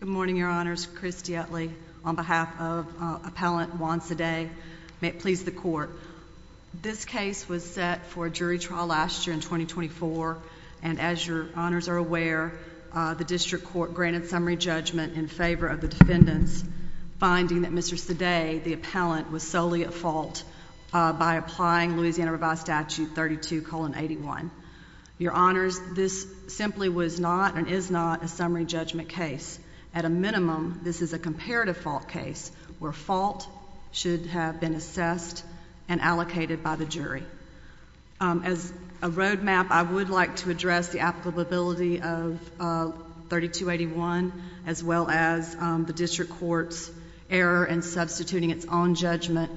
Good morning, your honors. Christy Utley on behalf of appellant wants a day. May it please the court. This case was set for jury trial last year in 2024. And as your honors are aware, the district court granted summary judgment in favor of the defendants, finding that Mr. Today, the appellant was solely at fault by applying Louisiana Revised Statute 32 colon 81. Your honors. This simply was not and is not a summary judgment case. At a minimum, this is a comparative fault case where fault should have been assessed and allocated by the jury. As a road map, I would like to address the applicability of 32 81 as well as the district court's error and substituting its own judgment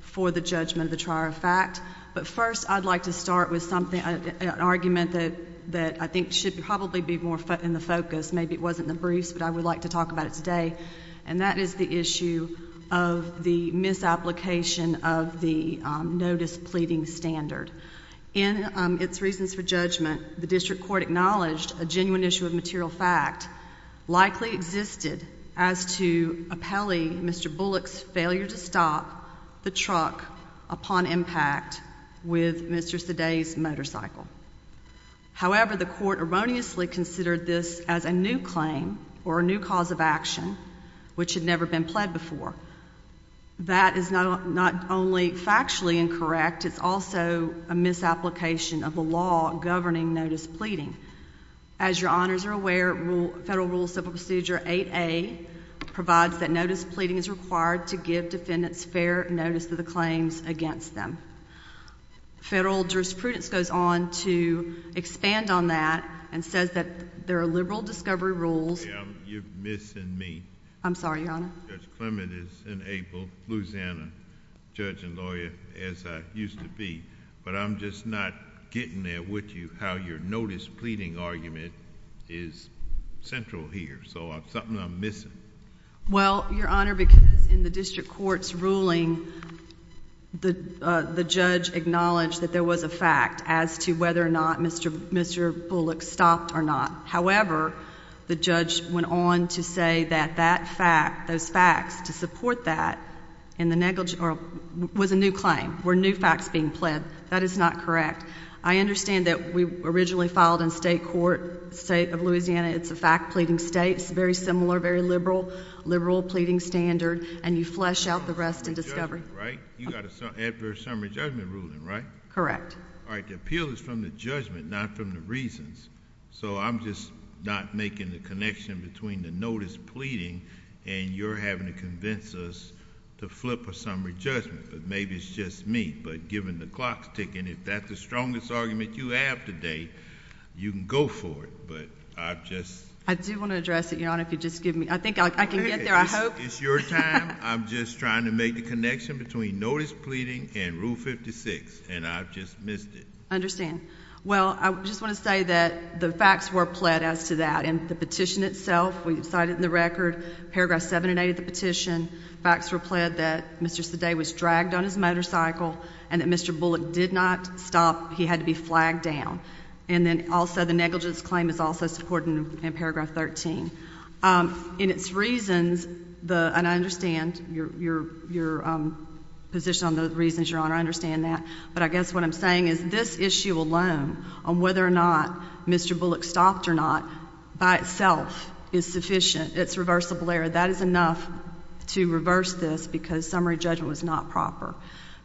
for the judgment of the trial of fact. But first, I'd like to start with something argument that that I think should probably be more in the focus. Maybe it wasn't the briefs, but I would like to talk about it today. And that is the issue of the misapplication of the notice pleading standard in its reasons for judgment. The district court acknowledged a genuine issue of material fact likely existed as to a Pele. Mr Bullock's failure to stop the truck upon impact with Mr. Today's motorcycle. However, the court erroneously considered this as a new claim or a new cause of action which had never been pled before. That is not only factually incorrect, it's also a misapplication of the law governing notice pleading. As your honors are aware, Federal Rule Civil Procedure eight a provides that notice pleading is required to give defendants fair notice of the claims against them. Federal jurisprudence goes on to expand on that and says that there are liberal discovery rules. You're missing me. I'm sorry, Your Honor. Clement is in April, Louisiana judge and lawyer as I used to be. But I'm just not getting there with you. How your notice pleading argument is central here. So something I'm missing. Well, Your Honor, because in the district court's ruling, the judge acknowledged that there was a fact as to whether or not Mr Mr Bullock stopped or not. However, the judge went on to say that that fact those facts to support that in the negligence was a new claim where new facts being pled. That is not correct. I understand that we originally filed in state court state of Louisiana. It's a fact pleading states very similar, very liberal, liberal pleading standard. And you flesh out the rest and discovery, right? You got a very summary judgment ruling, right? Correct. All right. Appeal is from the judgment, not from the reasons. So I'm just not making the connection between the notice pleading and you're having to convince us to flip a summary judgment. But maybe it's just me. But given the clock's ticking, if that's the strongest argument you have today, you can go for it. But I've just I do want to address it, Your Honor. If you just give me, I think I can get there. I hope it's your time. I'm just trying to make the connection between notice pleading and rule 56. And I've just missed it. Understand. Well, I just want to say that the facts were pled as to that and the petition itself. We decided in the record paragraph seven and eight of the petition facts were pled that Mr Sade was dragged on his motorcycle and that Mr Bullock did not stop. He had to be flagged down. And then also the negligence claim is also supporting in paragraph 13. Um, in its reasons, the and I understand your your your position on the reasons, Your Honor. I understand that. But I guess what I'm saying is this issue alone on whether or not Mr Bullock stopped or not by itself is sufficient. It's reversible error. That is enough to reverse this because summary judgment was not proper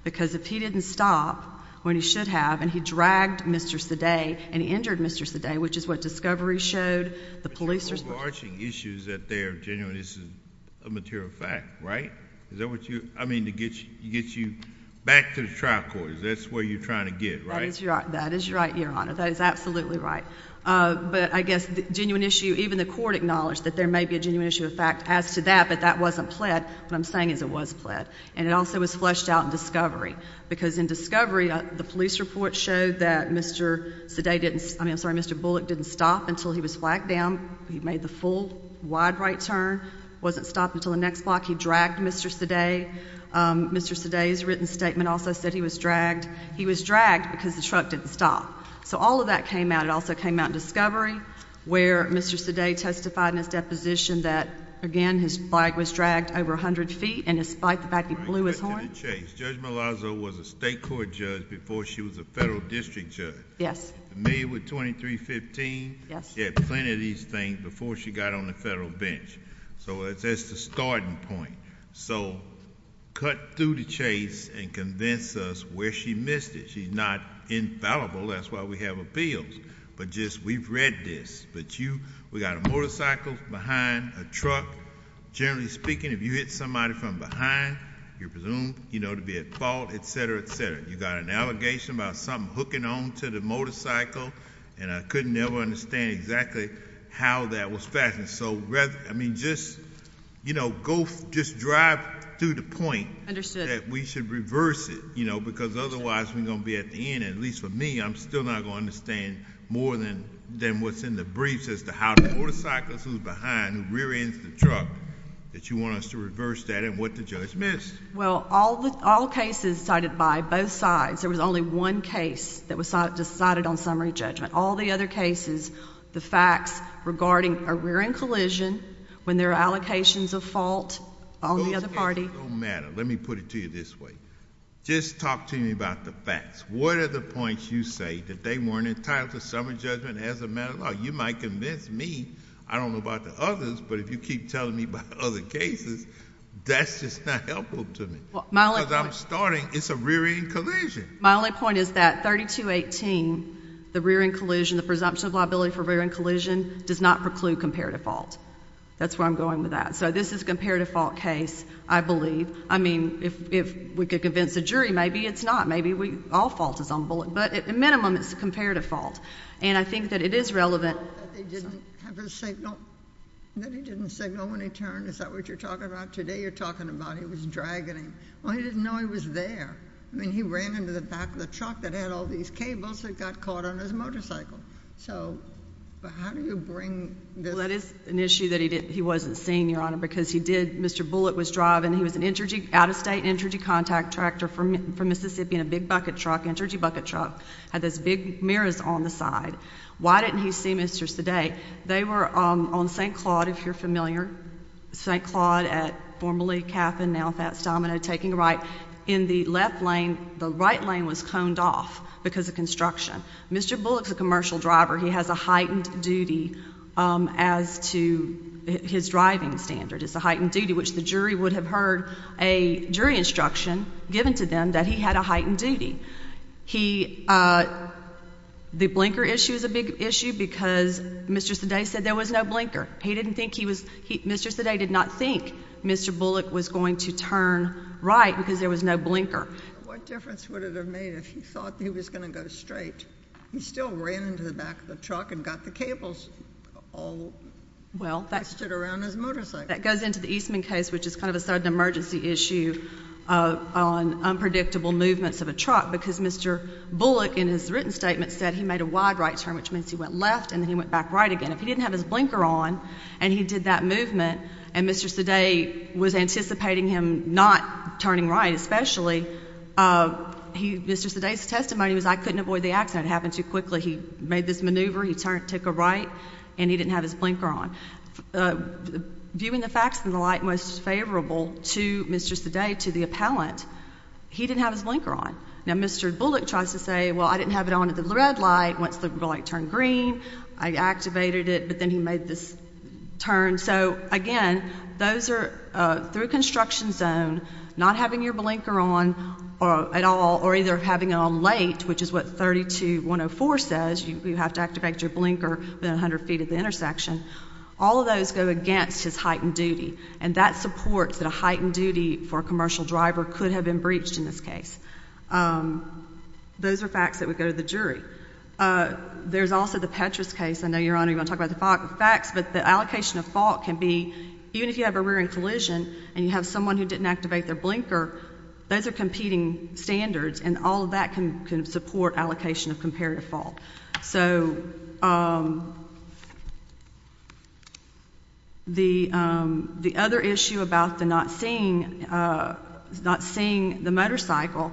because if he didn't stop when he should have and he dragged Mr Sade and injured Mr Sade, which is what discovery showed the police are overarching issues that they're genuine. This is a material fact, right? Is that what you I mean to get you get you back to the trial court? That's where you're trying to get, right? That is right, Your Honor. That is absolutely right. But I guess the genuine issue, even the court acknowledged that there may be a genuine issue of fact as to that. But that wasn't pled. What I'm saying is it was pled, and it also was fleshed out in discovery because in discovery, the police report showed that Mr Sade didn't. I'm sorry. Mr Bullock didn't stop until he was flagged down. He made the full wide right turn wasn't stopped until the next block. He dragged Mr Sade. Mr Sade's written statement also said he was dragged. He was dragged because the truck didn't stop. So all of that came out. It also came out discovery where Mr Sade testified in his deposition that again, his bike was dragged over 100 ft. And despite the fact he blew his horn chase, Judge Malazzo was a state court judge before she was a federal district judge. Yes. May with 23 15. She had plenty of these things before she got on the federal bench. So it's just a starting point. So cut through the chase and convince us where she missed it. She's not infallible. That's why we have appeals. But just we've read this, but you we got a motorcycle behind a truck. Generally speaking, if you hit somebody from behind, you're presumed, you know, to be at fault, etcetera, etcetera. You got an allegation about something hooking on to the motorcycle, and I couldn't never understand exactly how that was fashion. So I mean, just, you know, go just drive to the point that we should reverse it, you know, because otherwise we're gonna be at the end. At least for me, I'm still not gonna understand more than than what's in the briefs as to how the motorcycles who's behind rear ends the truck that you want us to reverse that and what the judge missed. Well, all all cases cited by both sides. There was only one case that was decided on summary judgment. All the other cases, the facts regarding a rear end collision when their allocations of fault on the other party matter. Let me put it to you this way. Just talk to me about the facts. What are the points you say that they weren't entitled to summary judgment as a matter of law? You might convince me. I don't know about the others, but if you keep telling me about other cases, that's just not helpful to me. Because I'm starting, it's a rear end collision. My only point is that 3218, the rear end collision, the presumption of liability for rear end collision does not preclude comparative fault. That's where I'm going with that. So this is comparative fault case, I believe. I mean, if we could convince the jury, maybe it's not. Maybe all fault is on the bullet. But at minimum, it's a and I think that it is relevant. He didn't say no when he turned. Is that what you're talking about today? You're talking about he was dragging him. He didn't know he was there when he ran into the back of the truck that had all these cables that got caught on his motorcycle. So how do you bring? That is an issue that he didn't. He wasn't seeing your honor because he did. Mr Bullet was driving. He was an energy out of state energy contact tractor from Mississippi in a big bucket truck energy bucket truck had this big mirrors on the side. Why didn't he see Mr today? They were on ST Claude. If you're familiar ST Claude at formally cap and now fast domino taking right in the left lane. The right lane was coned off because of construction. Mr Bullock's a commercial driver. He has a heightened duty as to his driving standard. It's a heightened duty, which the jury would have heard a jury instruction given to them that he had a heightened duty. He, uh, the blinker issue is a big issue because Mr. Today said there was no blinker. He didn't think he was. Mr. Today did not think Mr Bullet was going to turn right because there was no blinker. What difference would it have made if he thought he was going to go straight? He still ran into the back of the truck and got the cables. Oh, well, that stood around his motorcycle that goes into the Eastman case, which is kind of a of a truck because Mr Bullock in his written statement said he made a wide right turn, which means he went left and then he went back right again. If he didn't have his blinker on and he did that movement and Mr. Today was anticipating him not turning right, especially, uh, he, Mr. Today's testimony was I couldn't avoid the accident happened too quickly. He made this maneuver. He took a right and he didn't have his blinker on, uh, viewing the facts in the light most favorable to Mr. Today to the appellant. He didn't have his blinker on. Now, Mr Bullock tries to say, Well, I didn't have it on at the red light. Once the light turned green, I activated it. But then he made this turn. So again, those air through construction zone, not having your blinker on at all or either having on late, which is what 32 104 says. You have to activate your blinker 100 ft at the intersection. All of those go against his heightened duty, and that supports that a heightened duty for commercial driver could have been breached in this case. Um, those are facts that would go to the jury. Uh, there's also the Petrus case. I know you're on even talk about the facts, but the allocation of fault can be even if you have a rearing collision and you have someone who didn't activate their blinker, those air competing standards and all of that can support allocation of comparative fault. So, um, the other issue about the not seeing, uh, not seeing the motorcycle.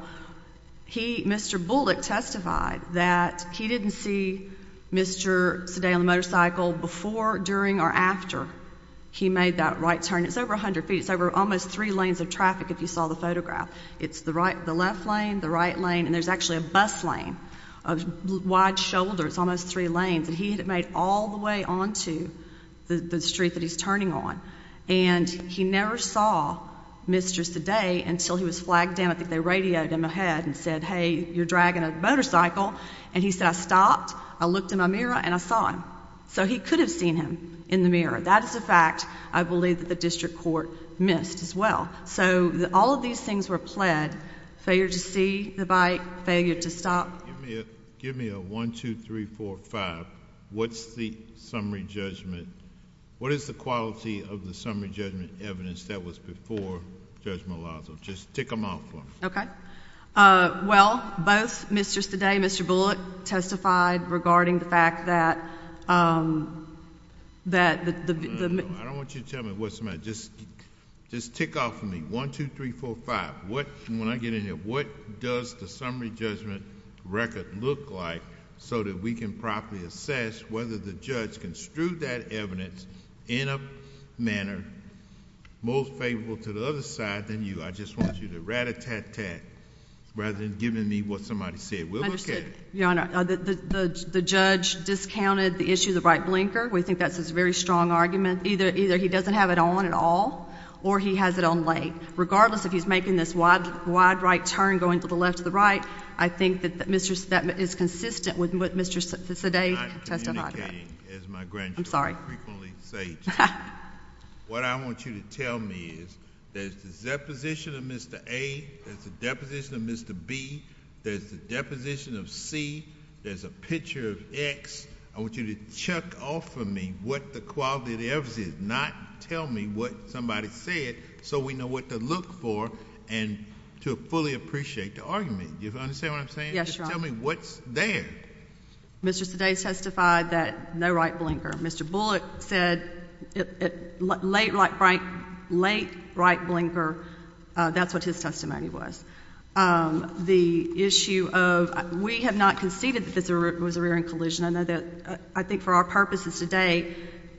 He, Mr Bullock testified that he didn't see Mr. Today on the motorcycle before, during or after he made that right turn. It's over 100 ft. It's over almost three lanes of traffic. If you saw the photograph, it's the right, the left lane, the right lane. And there's actually a bus lane of wide shoulders, almost three lanes that he had made all the way onto the street that he's turning on. And he never saw Mr Today until he was flagged down. I think they radioed him ahead and said, Hey, you're dragging a motorcycle. And he said, I stopped. I looked in my mirror and I saw him. So he could have seen him in the mirror. That is a fact. I believe that the district court missed as well. So all of these things were pled failure to see the bike failure to stop. Give me a 1, 2, 3, 4, 5. What's the summary judgment? What is the quality of the summary judgment evidence that was before Judge Malazzo? Just take them off. Okay. Uh, well, both Mr. Today, Mr Bullock testified regarding the fact that, um, that I don't want you to tell me what's the matter. Just just tick off for me. 1, 2, 3, 4, 5. What? When I get in there, what does the summary judgment record look like so that we can properly assess whether the judge construed that evidence in a manner most favorable to the other side than you? I just want you to rat a tat tat rather than giving me what somebody said. Well, okay, Your Honor, the judge discounted the issue of the right blinker. We think that's a very strong argument. Either. Either he doesn't have it on at all, or he has it on late. Regardless, if he's making this wide, wide right turn going to the left of the right, I think that that mistress that is consistent with what Mr. Today testified as my grand. I'm sorry. What I want you to tell me is there's the deposition of Mr A. There's a deposition of Mr B. There's a deposition of C. There's a picture of X. I want you to check off of me what the quality of the evidence is not tell me what somebody said. So we know what to look for and to fully appreciate the argument. You understand what I'm saying? Tell me what's there. Mr. Today's testified that no right blinker. Mr Bullock said it late, like bright, late, right blinker. That's what his testimony was. Um, the issue of we have not conceded that this was a rear end collision. I know that I think for our purposes today,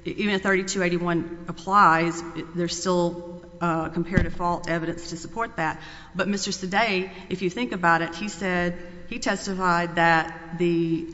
even 32 81 applies. There's still compared to fault evidence to support that. But Mr. Today, if you think about it, he said he testified that the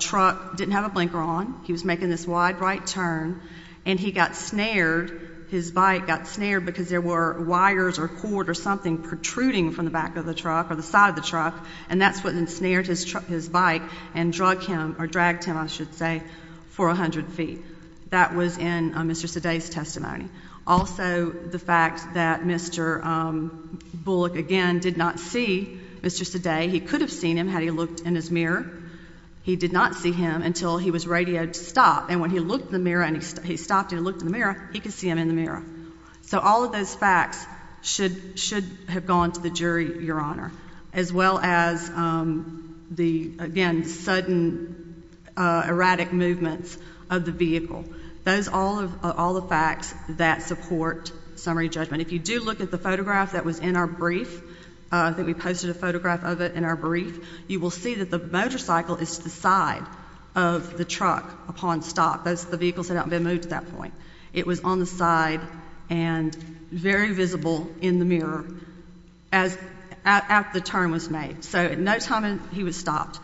truck didn't have a blinker on. He was making this wide right turn, and he got snared. His bike got snared because there were wires or cord or something protruding from the back of the truck or the side of the truck. And that's what ensnared his his bike and drug him or dragged him, I should say, for 100 ft. That was in Mr. Today's testimony. Also, the fact that Mr Bullock again did not see Mr. Today, he could have seen him had he looked in his mirror. He did not see him until he was radioed to stop. And when he looked the mirror and he stopped and looked in the mirror, he could see him in the mirror. So all of those facts should should have gone to the jury. Your well as, um, the again sudden erratic movements of the vehicle. Those all of all the facts that support summary judgment. If you do look at the photograph that was in our brief that we posted a photograph of it in our brief, you will see that the motorcycle is the side of the truck. Upon stop, that's the vehicles that have been moved. At that point, it was on the side and very visible in the mirror as at the turn was made. So at no time he was stopped.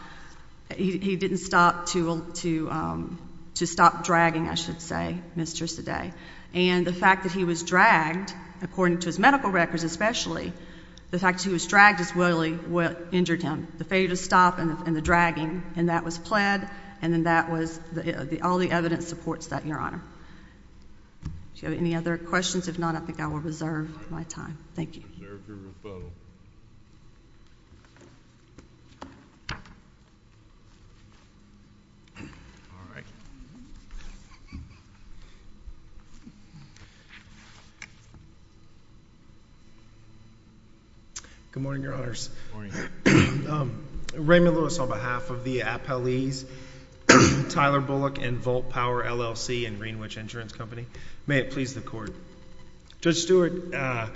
He didn't stop to, um, to stop dragging. I should say, Mr Today and the fact that he was dragged according to his medical records, especially the fact he was dragged as well. He injured him. The failure to stop and the dragging and that was pled. And then that was all the evidence supports that your honor. Do you have any other questions? If not, I think I will reserve my time. Thank you. All right. Good morning, Your Honor's Um, Raymond Lewis, on behalf of the appellees, Tyler Bullock and Volt Power LLC and Greenwich Insurance Company. May it please the court. Judge Stewart, uh,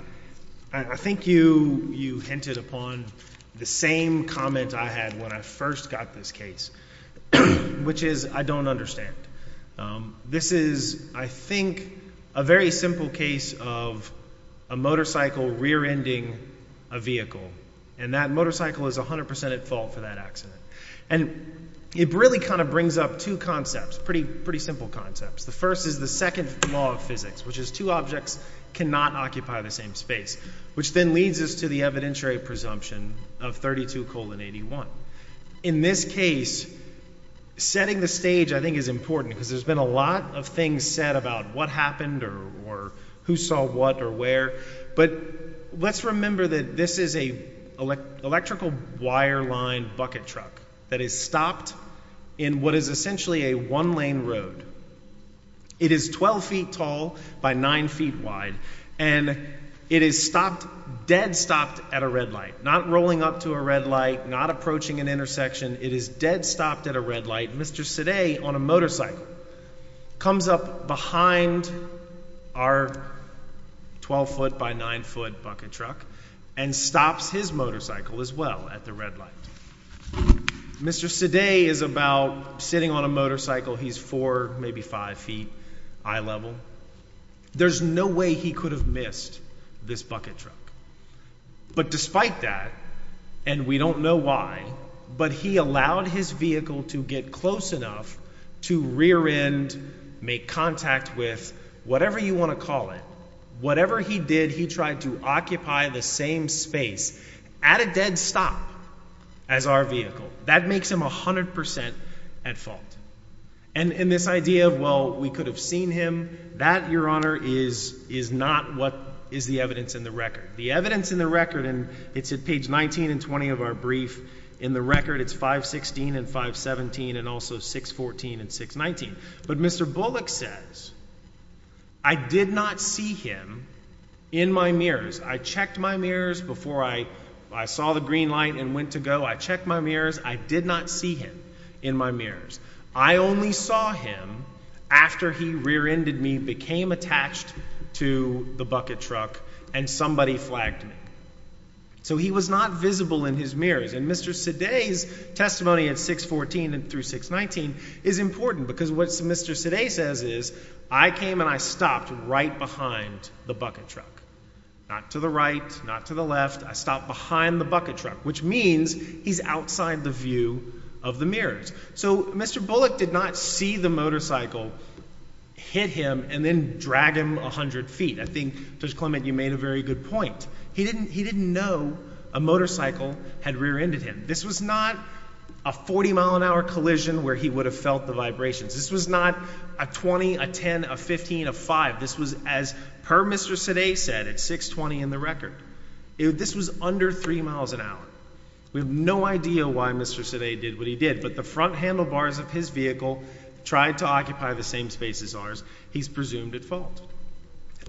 I think you you hinted upon the same comment I had when I first got this case, which is I don't understand. Um, this is, I think, a very simple case of a motorcycle rear ending a vehicle, and that motorcycle is 100% at fault for that accident. And it really kind of brings up two concepts. Pretty, pretty simple concepts. The first is the second law of physics, which is two objects cannot occupy the same space, which then leads us to the evidentiary presumption of 32 colon 81. In this case, setting the stage, I think, is important because there's been a lot of things said about what happened or or who saw what or where. But let's remember that this is a electrical wire line bucket truck that is stopped in what is essentially a one lane road. It is 12 ft tall by nine ft wide, and it is stopped dead. Stopped at a red light, not rolling up to a red light, not approaching an intersection. It is dead. Stopped at a red light. Mr. Today on a motorcycle comes up behind our 12 ft by nine ft bucket truck and stops his motorcycle as well. At the red light, Mr. Today is about sitting on a motorcycle. He's four, maybe five ft. I level. There's no way he could have missed this bucket truck. But despite that, and we don't know why, but he allowed his vehicle to get close enough to rear end, make contact with whatever you want to call it. Whatever he did, he tried to occupy the same space at a dead stop as our vehicle. That makes him 100% at fault. And in this idea of well, we could have seen him that your honor is is not what is the evidence in the record. The evidence in the record and it's at page 19 and 20 of our brief in the record. It's 5 16 and 5 17 and also 6 14 and 6 19. But Mr Bullock says I did not see him in my mirrors. I checked my mirrors before I I saw the green light and went to go. I checked my mirrors. I did not see him in my mirrors. I only saw him after he rear ended me, became attached to the bucket truck and somebody flagged me so he was not visible in his mirrors. And Mr Seday's testimony at 6 14 and through 6 19 is important because what Mr Seday says is I came and I stopped right behind the bucket truck, not to the right, not to the left. I stopped behind the bucket truck, which means he's outside the view of the mirrors. So Mr Bullock did not see the motorcycle hit him and then drag him 100 ft. I think Judge Clement, you made a very good point. He didn't. He didn't know a motorcycle had rear ended him. This was not a 40 mile an hour collision where he would have felt the vibrations. This was not a 20 a 10 of 15 of five. This was as per Mr Seday said at 6 20 in the record. This was under three miles an hour. We have no idea why Mr Seday did what he did. But the front handlebars of his vehicle tried to occupy the same spaces ours. He's presumed at fault.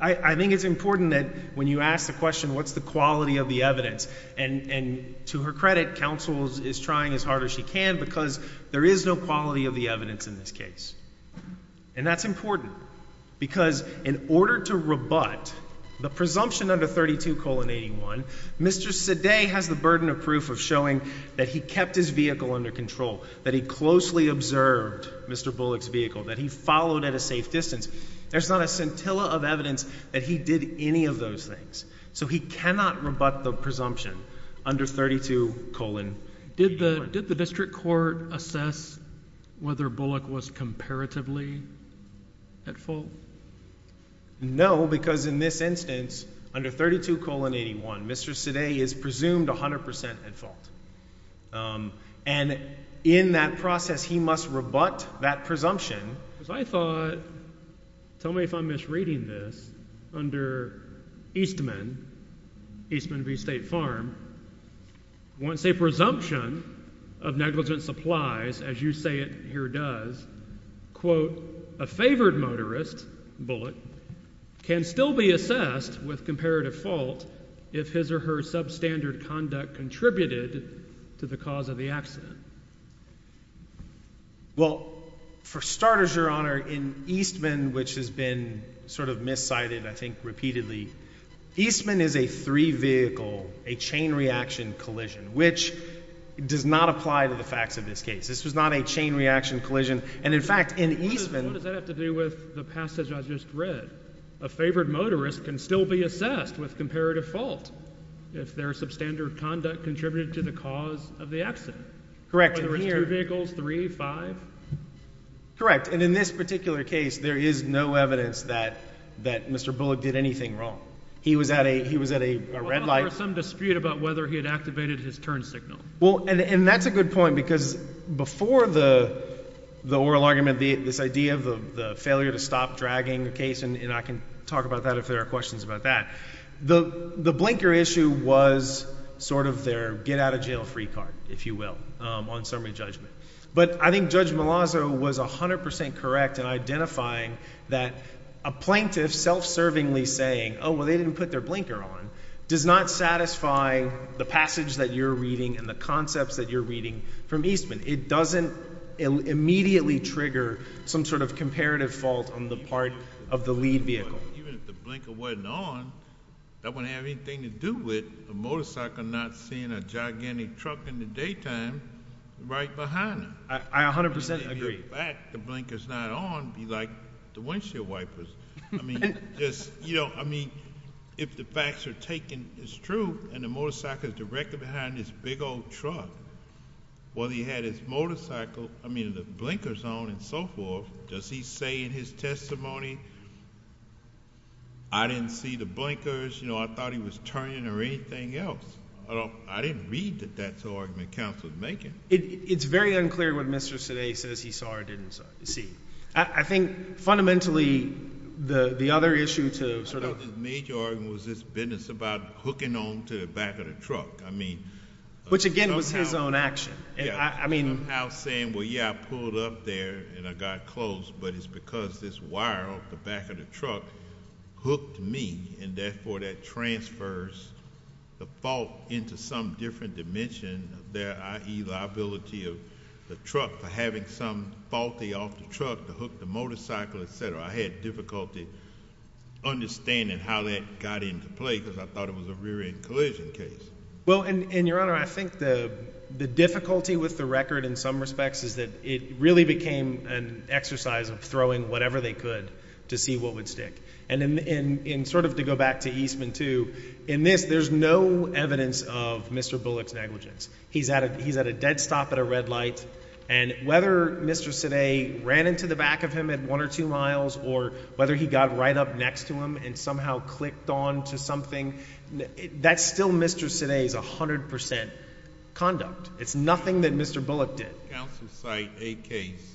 I think it's important that when you ask the question, what's the quality of the evidence? And and to her credit, counsel's is trying as hard as she can because there is no quality of the evidence in this case. And that's important because in order to rebut the presumption under 32 colon 81, Mr Seday has the burden of proof of showing that he kept his vehicle under control, that he closely observed Mr Bullock's vehicle that he followed at a he did any of those things. So he cannot rebut the presumption under 32 colon. Did the did the district court assess whether Bullock was comparatively at full? No, because in this instance, under 32 colon 81, Mr Seday is presumed 100% at fault. Um, and in that process, he must rebut that presumption because I tell me if I'm misreading this under Eastman Eastman V. State Farm, once a presumption of negligent supplies, as you say it here, does quote a favored motorist bullet can still be assessed with comparative fault if his or her substandard conduct contributed to the cause of the accident. Well, for starters, your honor in Eastman, which has been sort of miss cited, I think repeatedly Eastman is a three vehicle, a chain reaction collision, which does not apply to the facts of this case. This was not a chain reaction collision. And in fact, in Eastman, what does that have to do with the passage? I just read a favored motorist can still be assessed with comparative fault if their substandard conduct contributed to the cause of the accident. Correct. Vehicles. 35 correct. And in this particular case, there is no evidence that that Mr Bullock did anything wrong. He was at a he was at a red light, some dispute about whether he had activated his turn signal. Well, and that's a good point, because before the oral argument, this idea of the failure to stop dragging the case, and I can talk about that if there are questions about that, the blinker issue was sort of their get out of jail free card, if you will, on summary judgment. But I think Judge Malazzo was 100% correct in identifying that a plaintiff self serving Lee saying, Oh, well, they didn't put their blinker on does not satisfy the passage that you're reading and the concepts that you're reading from Eastman. It doesn't immediately trigger some sort of comparative fault on the part of the lead vehicle. Even if the blinker wasn't on, that wouldn't have anything to do with a motorcycle, not seeing a gigantic truck in the daytime right behind. I 100% agree that the blinkers not on be like the windshield wipers. I mean, just, you know, I mean, if the facts are taken, it's true. And the motorcycle is directly behind this big old truck. Well, he had his motorcycle. I mean, the blinkers on and so forth. Does he say in his testimony I didn't see the blinkers. You know, I thought he was turning or anything else. I don't I didn't read that. That's the argument Council is making. It's very unclear what Mr. Today says he saw or didn't see. I think fundamentally the other issue to sort of major was this business about hooking on to the back of the truck. I mean, which again was his own action. I mean, saying, Well, I pulled up there and I got close, but it's because this wire off the back of the truck hooked me and therefore that transfers the fault into some different dimension there. I liability of the truck for having some faulty off the truck, the hook, the motorcycle, etcetera. I had difficulty understanding how that got into play because I thought it was a rear end collision case. Well, and your honor, I think the difficulty with the record in some respects is that it really became an exercise of throwing whatever they could to see what would stick. And in in sort of to go back to Eastman to in this, there's no evidence of Mr Bullock's negligence. He's at a He's at a dead stop at a red light. And whether Mr. Today ran into the back of him at one or two miles or whether he got right up next to him and somehow clicked on to something that's still Mr. Today's 100% conduct. It's nothing that Mr Bullock did. Counsel cite a case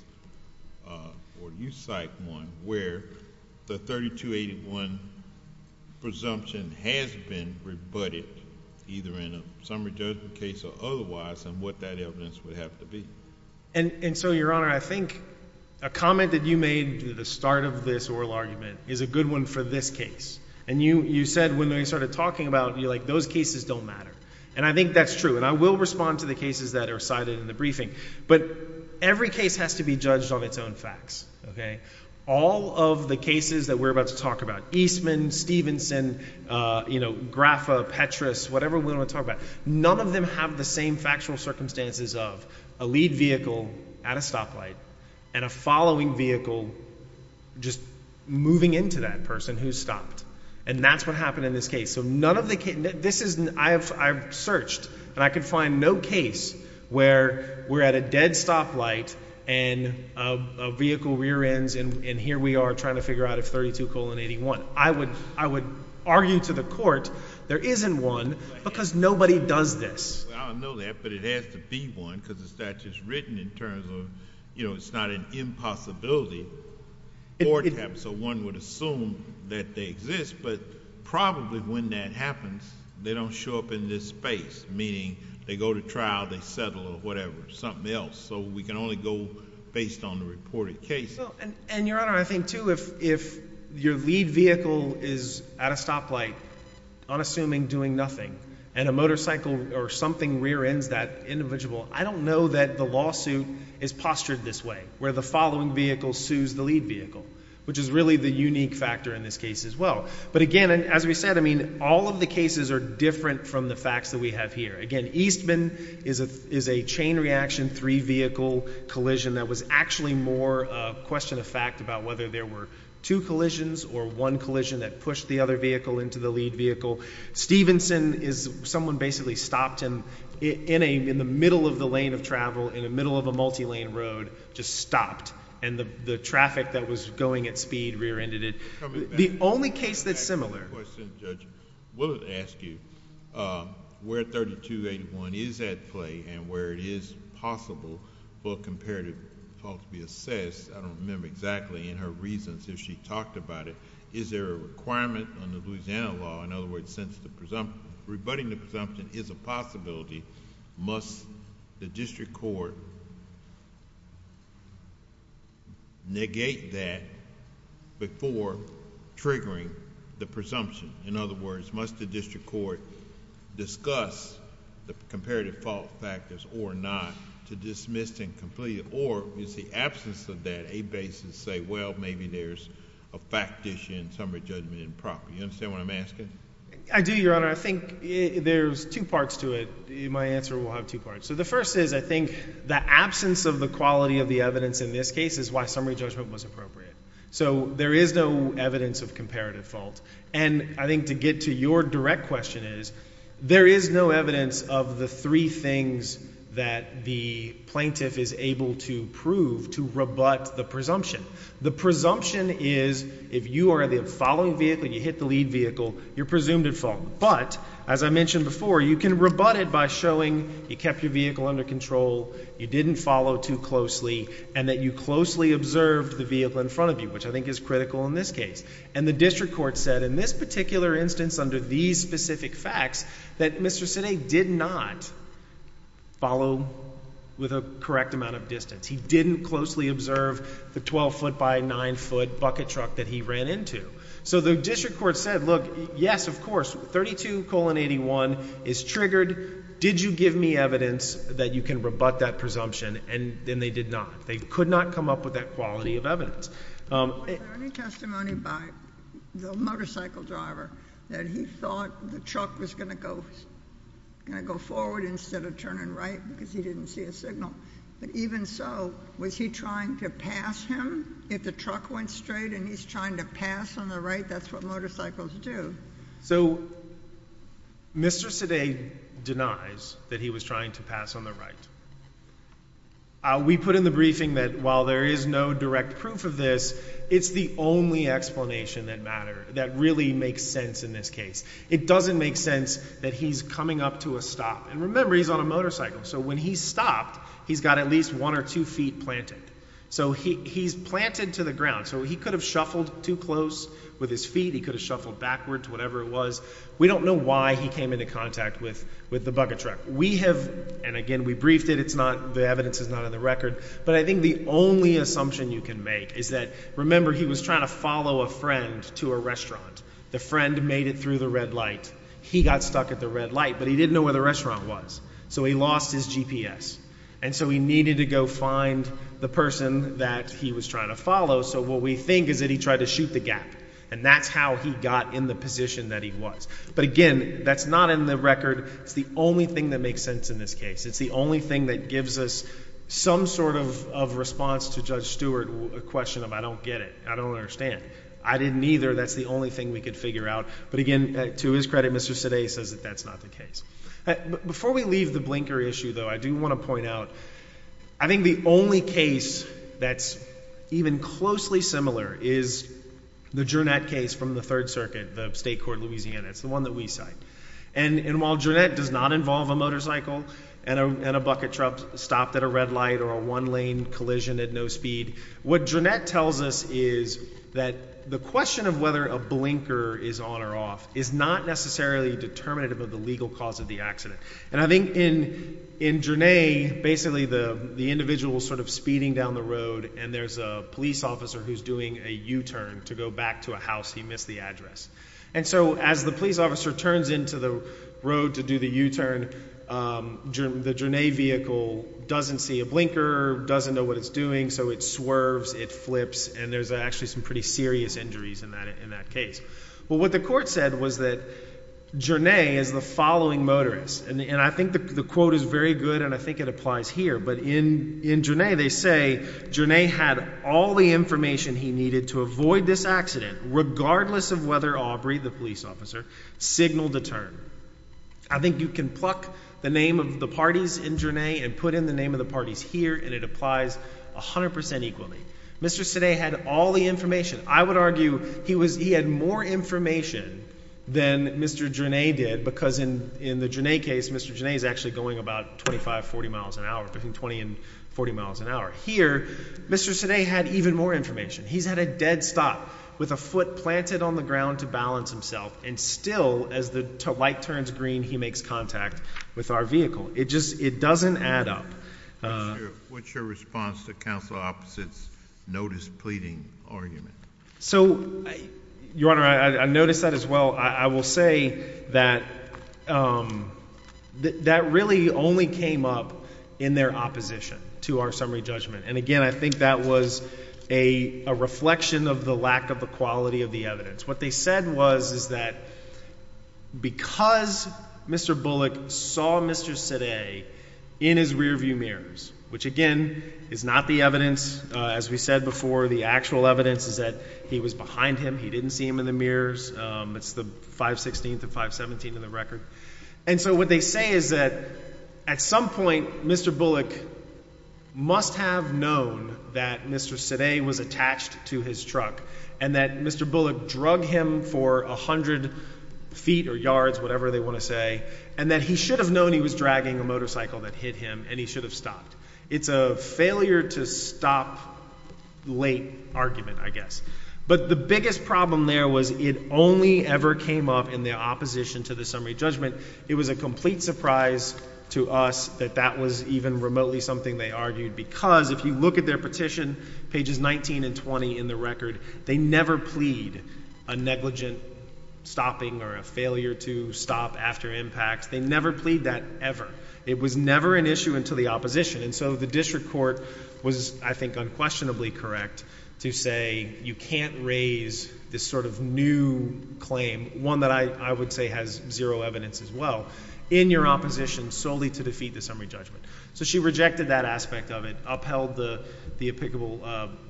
or you cite one where the 32 81 presumption has been rebutted either in a summary judgment case or otherwise and what that evidence would have to be. And so, your honor, I think a comment that you made at the start of this oral argument is a good one for this case. And you said when they started talking about you like those cases don't matter. And I think that's true. And I will respond to the cases that are cited in the briefing. But every case has to be judged on its own facts. Okay, all of the cases that we're about to talk about Eastman, Stevenson, uh, you know, graph of Petrus, whatever we want to talk about. None of them have the same factual circumstances of a lead vehicle at a stoplight and a following vehicle just moving into that person who stopped. And that's what happened in this case. So none of the this is I've searched and I could find no case where we're at a dead stoplight and a vehicle rear ends. And here we are trying to figure out of 32 colon 81. I would I would argue to the court there isn't one because nobody does this. I don't know that, but it has to be one because it's not just written in terms of, you know, it's not an impossibility or so one would assume that they exist. But probably when that happens, they don't show up in this space, meaning they go to trial, they settle or whatever something else. So we can only go based on the reported case. And your honor, I think to if if your lead vehicle is at a stoplight on assuming doing nothing and a motorcycle or something rear ends that individual, I don't know that the lawsuit is postured this way, where the following vehicle sues the lead vehicle, which is really the unique factor in this case as well. But again, as we said, I mean, all of the cases are different from the facts that we have here again. Eastman is a is a chain reaction. Three vehicle collision that was actually more a question of fact about whether there were two collisions or one collision that pushed the other vehicle into the lead vehicle. Stevenson is someone basically stopped him in a in the middle of the lane of travel in the middle of a multi lane road just stopped. And the traffic that was going at speed rear ended it. The only case that's similar...... I have a question, Judge. Will it ask you where 3281 is at play and where it is possible for a comparative fault to be assessed? I don't remember exactly in her reasons if she talked about it. Is there a requirement on the Louisiana law, in other words, since rebutting the presumption is a possibility, must the district court negate that before triggering the presumption? In other words, must the district court discuss the comparative fault factors or not to dismiss and complete it? Or is the absence of that a basis to say, well, maybe there's a fact issue in summary judgment and property? You understand what I'm asking? I do, Your Honor. I think there's two parts to it. My answer will have two parts. So the first is, I think the absence of the quality of the evidence in this case is why summary judgment was appropriate. So there is no evidence of comparative fault. And I think to get to your direct question is there is no evidence of the three things that the plaintiff is able to prove to rebut the presumption. The presumption is if you are the following vehicle, you hit the speed vehicle, you're presumed at fault. But as I mentioned before, you can rebut it by showing you kept your vehicle under control. You didn't follow too closely and that you closely observed the vehicle in front of you, which I think is critical in this case. And the district court said in this particular instance, under these specific facts that Mr City did not follow with a correct amount of distance. He didn't closely observe the 12 ft by nine ft bucket truck that he ran into. So the district court said, Look, yes, of course, 32 colon 81 is triggered. Did you give me evidence that you can rebut that presumption? And then they did not. They could not come up with that quality of evidence. Um, any testimony by the motorcycle driver that he thought the truck was gonna go, gonna go forward instead of turning right because he didn't see a signal. But even so, was he trying to pass him if the truck went straight and he's trying to pass on the right? That's what motorcycles do. So Mr. Today denies that he was trying to pass on the right. We put in the briefing that while there is no direct proof of this, it's the only explanation that matter that really makes sense. In this case, it doesn't make sense that he's coming up to a stop. And remember, he's on a motorcycle. So when he stopped, he's got at least one or two ft planted. So he's planted to the ground so he could have shuffled too close with his feet. He could have shuffled backwards, whatever it was. We don't know why he came into contact with with the bucket truck we have. And again, we briefed it. It's not. The evidence is not on the record. But I think the only assumption you can make is that remember he was trying to follow a friend to a restaurant. The friend made it through the red light. He got stuck at the red light, but he didn't know where the restaurant was. So he lost his GPS. And so we needed to go find the person that he was trying to follow. So what we think is that he tried to shoot the gap, and that's how he got in the position that he was. But again, that's not in the record. It's the only thing that makes sense in this case. It's the only thing that gives us some sort of response to Judge Stewart. A question of I don't get it. I don't understand. I didn't either. That's the only thing we could figure out. But again, to his credit, Mr. Today says that that's not the case. Before we leave the blinker issue, though, I do want to point out. I think the only case that's even closely similar is the journey that case from the Third Circuit, the State Court, Louisiana. It's the one that we cite. And while Jeanette does not involve a motorcycle and a bucket truck stopped at a red light or a one lane collision at no speed, what Jeanette tells us is that the question of whether a blinker is on or off is not necessarily determinative of the legal cause of the accident. And I think in in journey, basically, the individual sort of speeding down the road, and there's a police officer who's doing a U turn to go back to a house. He missed the address. And so as the police officer turns into the road to do the U turn, the journey vehicle doesn't see a blinker, doesn't know what it's doing. So it swerves. It flips. And there's actually some pretty serious injuries in that in that case. Well, what the court said was that journey is the following motorists, and I think the quote is very good, and I think it applies here. But in in journey, they say journey had all the information he needed to avoid this accident, regardless of whether Aubrey, the police officer, signaled a turn. I think you can pluck the name of the parties in journey and put in the name of the parties here, and it applies 100% equally. Mr. Today had all the information. I would argue he was. He had more information than Mr. Journey did, because in in the journey case, Mr. Janay is actually going about 25 40 miles an hour between 20 and 40 miles an hour here. Mr. Today had even more information. He's had a dead stop with a foot planted on the ground to balance himself and still as the light turns green, he makes contact with our vehicle. It just it doesn't add up. What's your response to council opposites notice pleading argument? So, Your Honor, I noticed that as well. I will say that, um, that really only came up in their opposition to our summary judgment. And again, I think that was a reflection of the lack of the quality of the evidence. What they said was, is that because Mr Bullock saw Mr today in his rear view mirrors, which again is not the evidence, as we said before, the actual evidence is that he was behind him. He didn't see him in the mirrors. It's the 5 16th of 5 17 in the record. And so what they say is that at some point, Mr Bullock must have known that Mr. Today was attached to his truck and that Mr Bullock drug him for 100 feet or yards, whatever they want to say, and that he should have known he was dragging a motorcycle that hit him, and he should have stopped. It's a failure to stop late argument, I guess. But the biggest problem there was it only ever came up in their opposition to the summary judgment. It was a complete surprise to us that that was even remotely something they argued. Because if you look at their petition, pages 19 and 20 in the record, they never plead a negligent stopping or a failure to stop after impact. They never plead that ever. It was never an issue into the opposition. And so the district court was, I think, unquestionably correct to say you can't raise this sort of new claim, one that I would say has zero evidence as well in your opposition solely to defeat the summary judgment. So she rejected that aspect of it, upheld the applicable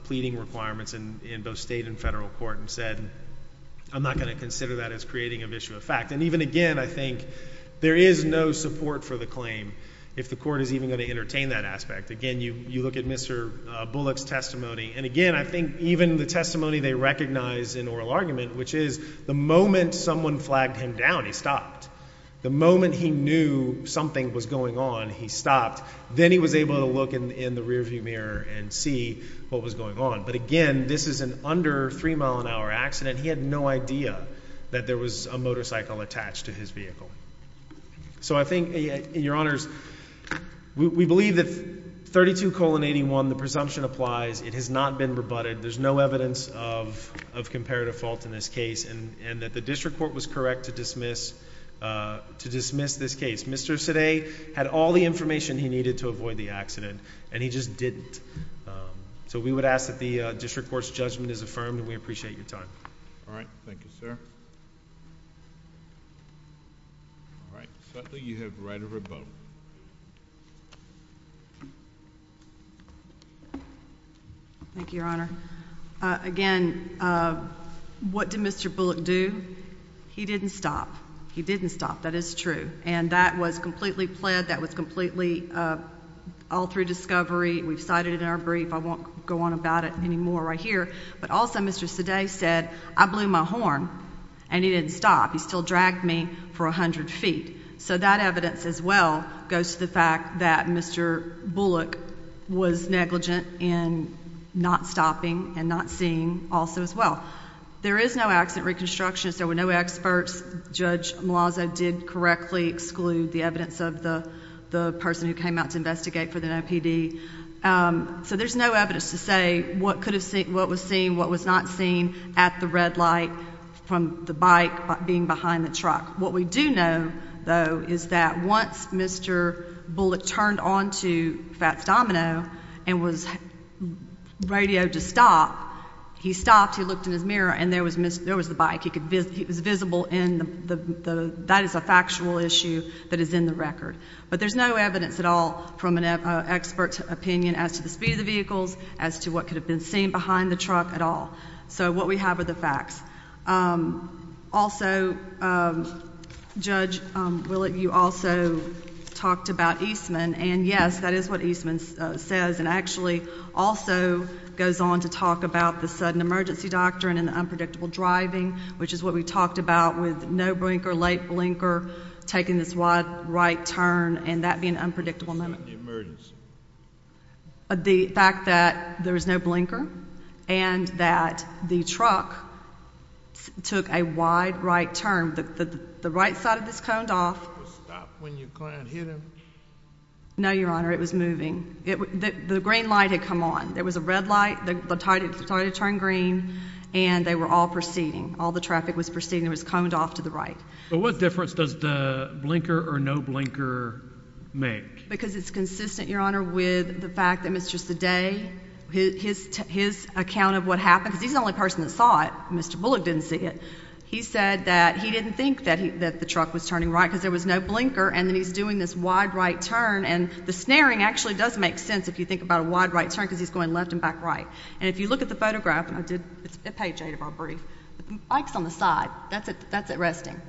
pleading requirements and in both state and federal court and said, I'm not going to consider that is creating an issue of fact. And even again, I think there is no support for the claim. If the even going to entertain that aspect again, you look at Mr Bullock's testimony. And again, I think even the testimony they recognize in oral argument, which is the moment someone flagged him down, he stopped the moment he knew something was going on. He stopped. Then he was able to look in the rearview mirror and see what was going on. But again, this is an under three mile an hour accident. He had no idea that there was a motorcycle attached to his vehicle. So I think your honors, we believe that 32 colon 81. The presumption applies. It has not been rebutted. There's no evidence of of comparative fault in this case and that the district court was correct to dismiss to dismiss this case. Mr. Today had all the information he needed to avoid the accident, and he just didn't. So we would ask that the district court's judgment is affirmed. We appreciate your time. All right. Thank you, sir. All right. You have right of rebuttal. Thank you, Your Honor. Again, uh, what did Mr Bullock do? He didn't stop. He didn't stop. That is true. And that was completely pled. That was completely, uh, all through discovery. We've cited in our brief. I won't go on about it anymore right here. But also, Mr. Today said, I blew my horn and he didn't stop. He still dragged me for 100 ft. So that evidence is well goes to the fact that Mr Bullock was negligent in not stopping and not seeing also as well. There is no accident reconstruction. There were no experts. Judge Malaza did correctly exclude the evidence of the person who came out to investigate for the PD. Um, so there's no evidence to say what could have what was seeing what was not seen at the red light from the bike being behind the truck. What we do know, though, is that once Mr Bullock turned onto Fats Domino and was radioed to stop, he stopped. He looked in his mirror and there was missed. There was the bike. He could visit. It was visible in the that is a factual issue that is in the record. But there's no evidence at all from an expert opinion as to the speed of vehicles as to what could have been seen behind the truck at all. So what we have are the facts. Um, also, um, Judge, um, will it? You also talked about Eastman. And yes, that is what Eastman says and actually also goes on to talk about the sudden emergency doctrine in the unpredictable driving, which is what we talked about with no brink or late blinker taking this wide right turn and that being unpredictable. The fact that there is no blinker and that the truck took a wide right term that the right side of this coned off when you can't hit him. No, Your Honor. It was moving. The green light had come on. There was a red light. The tide started to turn green, and they were all proceeding. All the traffic was proceeding. It was coned off to the right. But what difference does the blinker or no blinker make? Because it's consistent, Your Honor, with the fact that it's just the day his his account of what happened. He's the only person that saw it. Mr Bullock didn't see it. He said that he didn't think that that the truck was turning right because there was no blinker. And then he's doing this wide right turn. And the snaring actually does make sense if you think about a wide right turn because he's going left and back right. And if you look at the photograph, I did a page eight of our brief bikes on the side. That's it. That's it. Resting.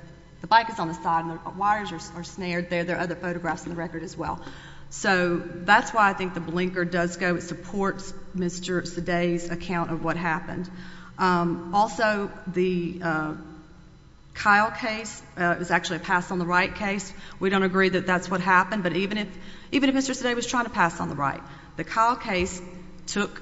The bike is on the side. Wires are snared there. There are other photographs in the record as well. So that's why I think the blinker does go. It supports Mr Today's account of what happened. Um, also, the, uh, Kyle case is actually passed on the right case. We don't agree that that's what happened. But even if even if Mr Today was trying to pass on the right, the Kyle case took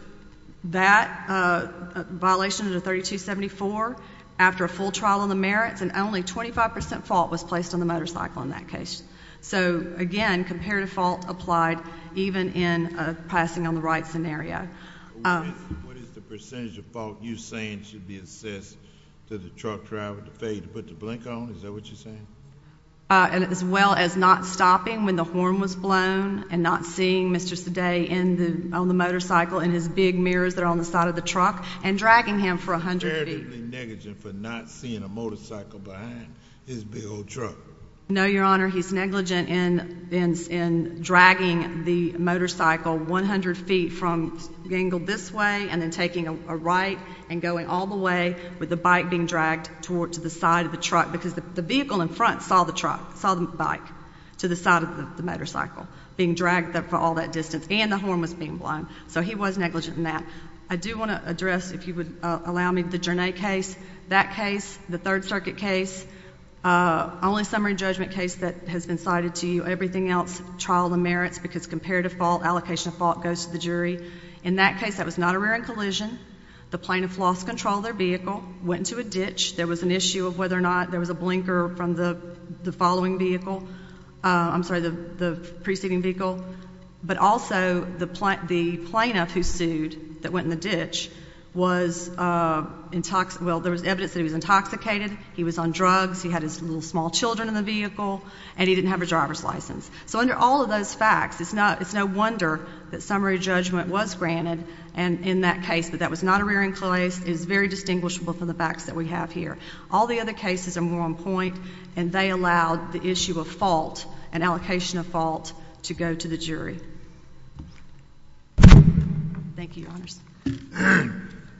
that, uh, violation of the 32 74 after a full trial on the merits and only 25% fault was placed on the motorcycle in that case. So again, compared to fault applied even in passing on the right scenario. What is the percentage of fault you saying should be assessed to the truck driver to fade to put the blinker on? Is that what you're saying? Uh, and as well as not stopping when the horn was blown and not seeing Mr Today in the on the motorcycle and his big mirrors that are on the side of the in a motorcycle behind his big old truck. No, Your Honor. He's negligent in in in dragging the motorcycle 100 ft from being angled this way and then taking a right and going all the way with the bike being dragged toward to the side of the truck because the vehicle in front saw the truck saw the bike to the side of the motorcycle being dragged up for all that distance and the horn was being blown. So he was negligent in that. I do want to address if you would allow me the journey case, that case, the Third Circuit case, only summary judgment case that has been cited to you. Everything else trial the merits because compared to fault allocation of fault goes to the jury. In that case, that was not a rear end collision. The plaintiff lost control. Their vehicle went to a ditch. There was an issue of whether or not there was a blinker from the following vehicle. I'm sorry, the preceding vehicle. But also the plant, the plaintiff who sued that went in the ditch was, uh, in talks. Well, there was evidence that he was intoxicated. He was on drugs. He had his little small Children in the vehicle and he didn't have a driver's license. So under all of those facts, it's not. It's no wonder that summary judgment was granted and in that case, but that was not a rearing place is very distinguishable from the facts that we have here. All the other cases are more on point and they allowed the issue of fault and allocation of fault to go to the jury. Thank you.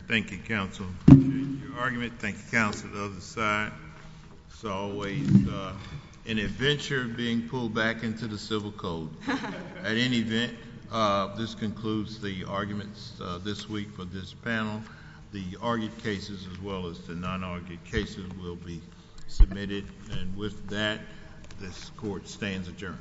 Thank you. Council argument. Thank you. Council of the side. So always an adventure being pulled back into the civil code. At any event, this concludes the arguments this week. But this panel, the argued cases as well as the non argued cases will be submitted. And with that, this court stands adjourned.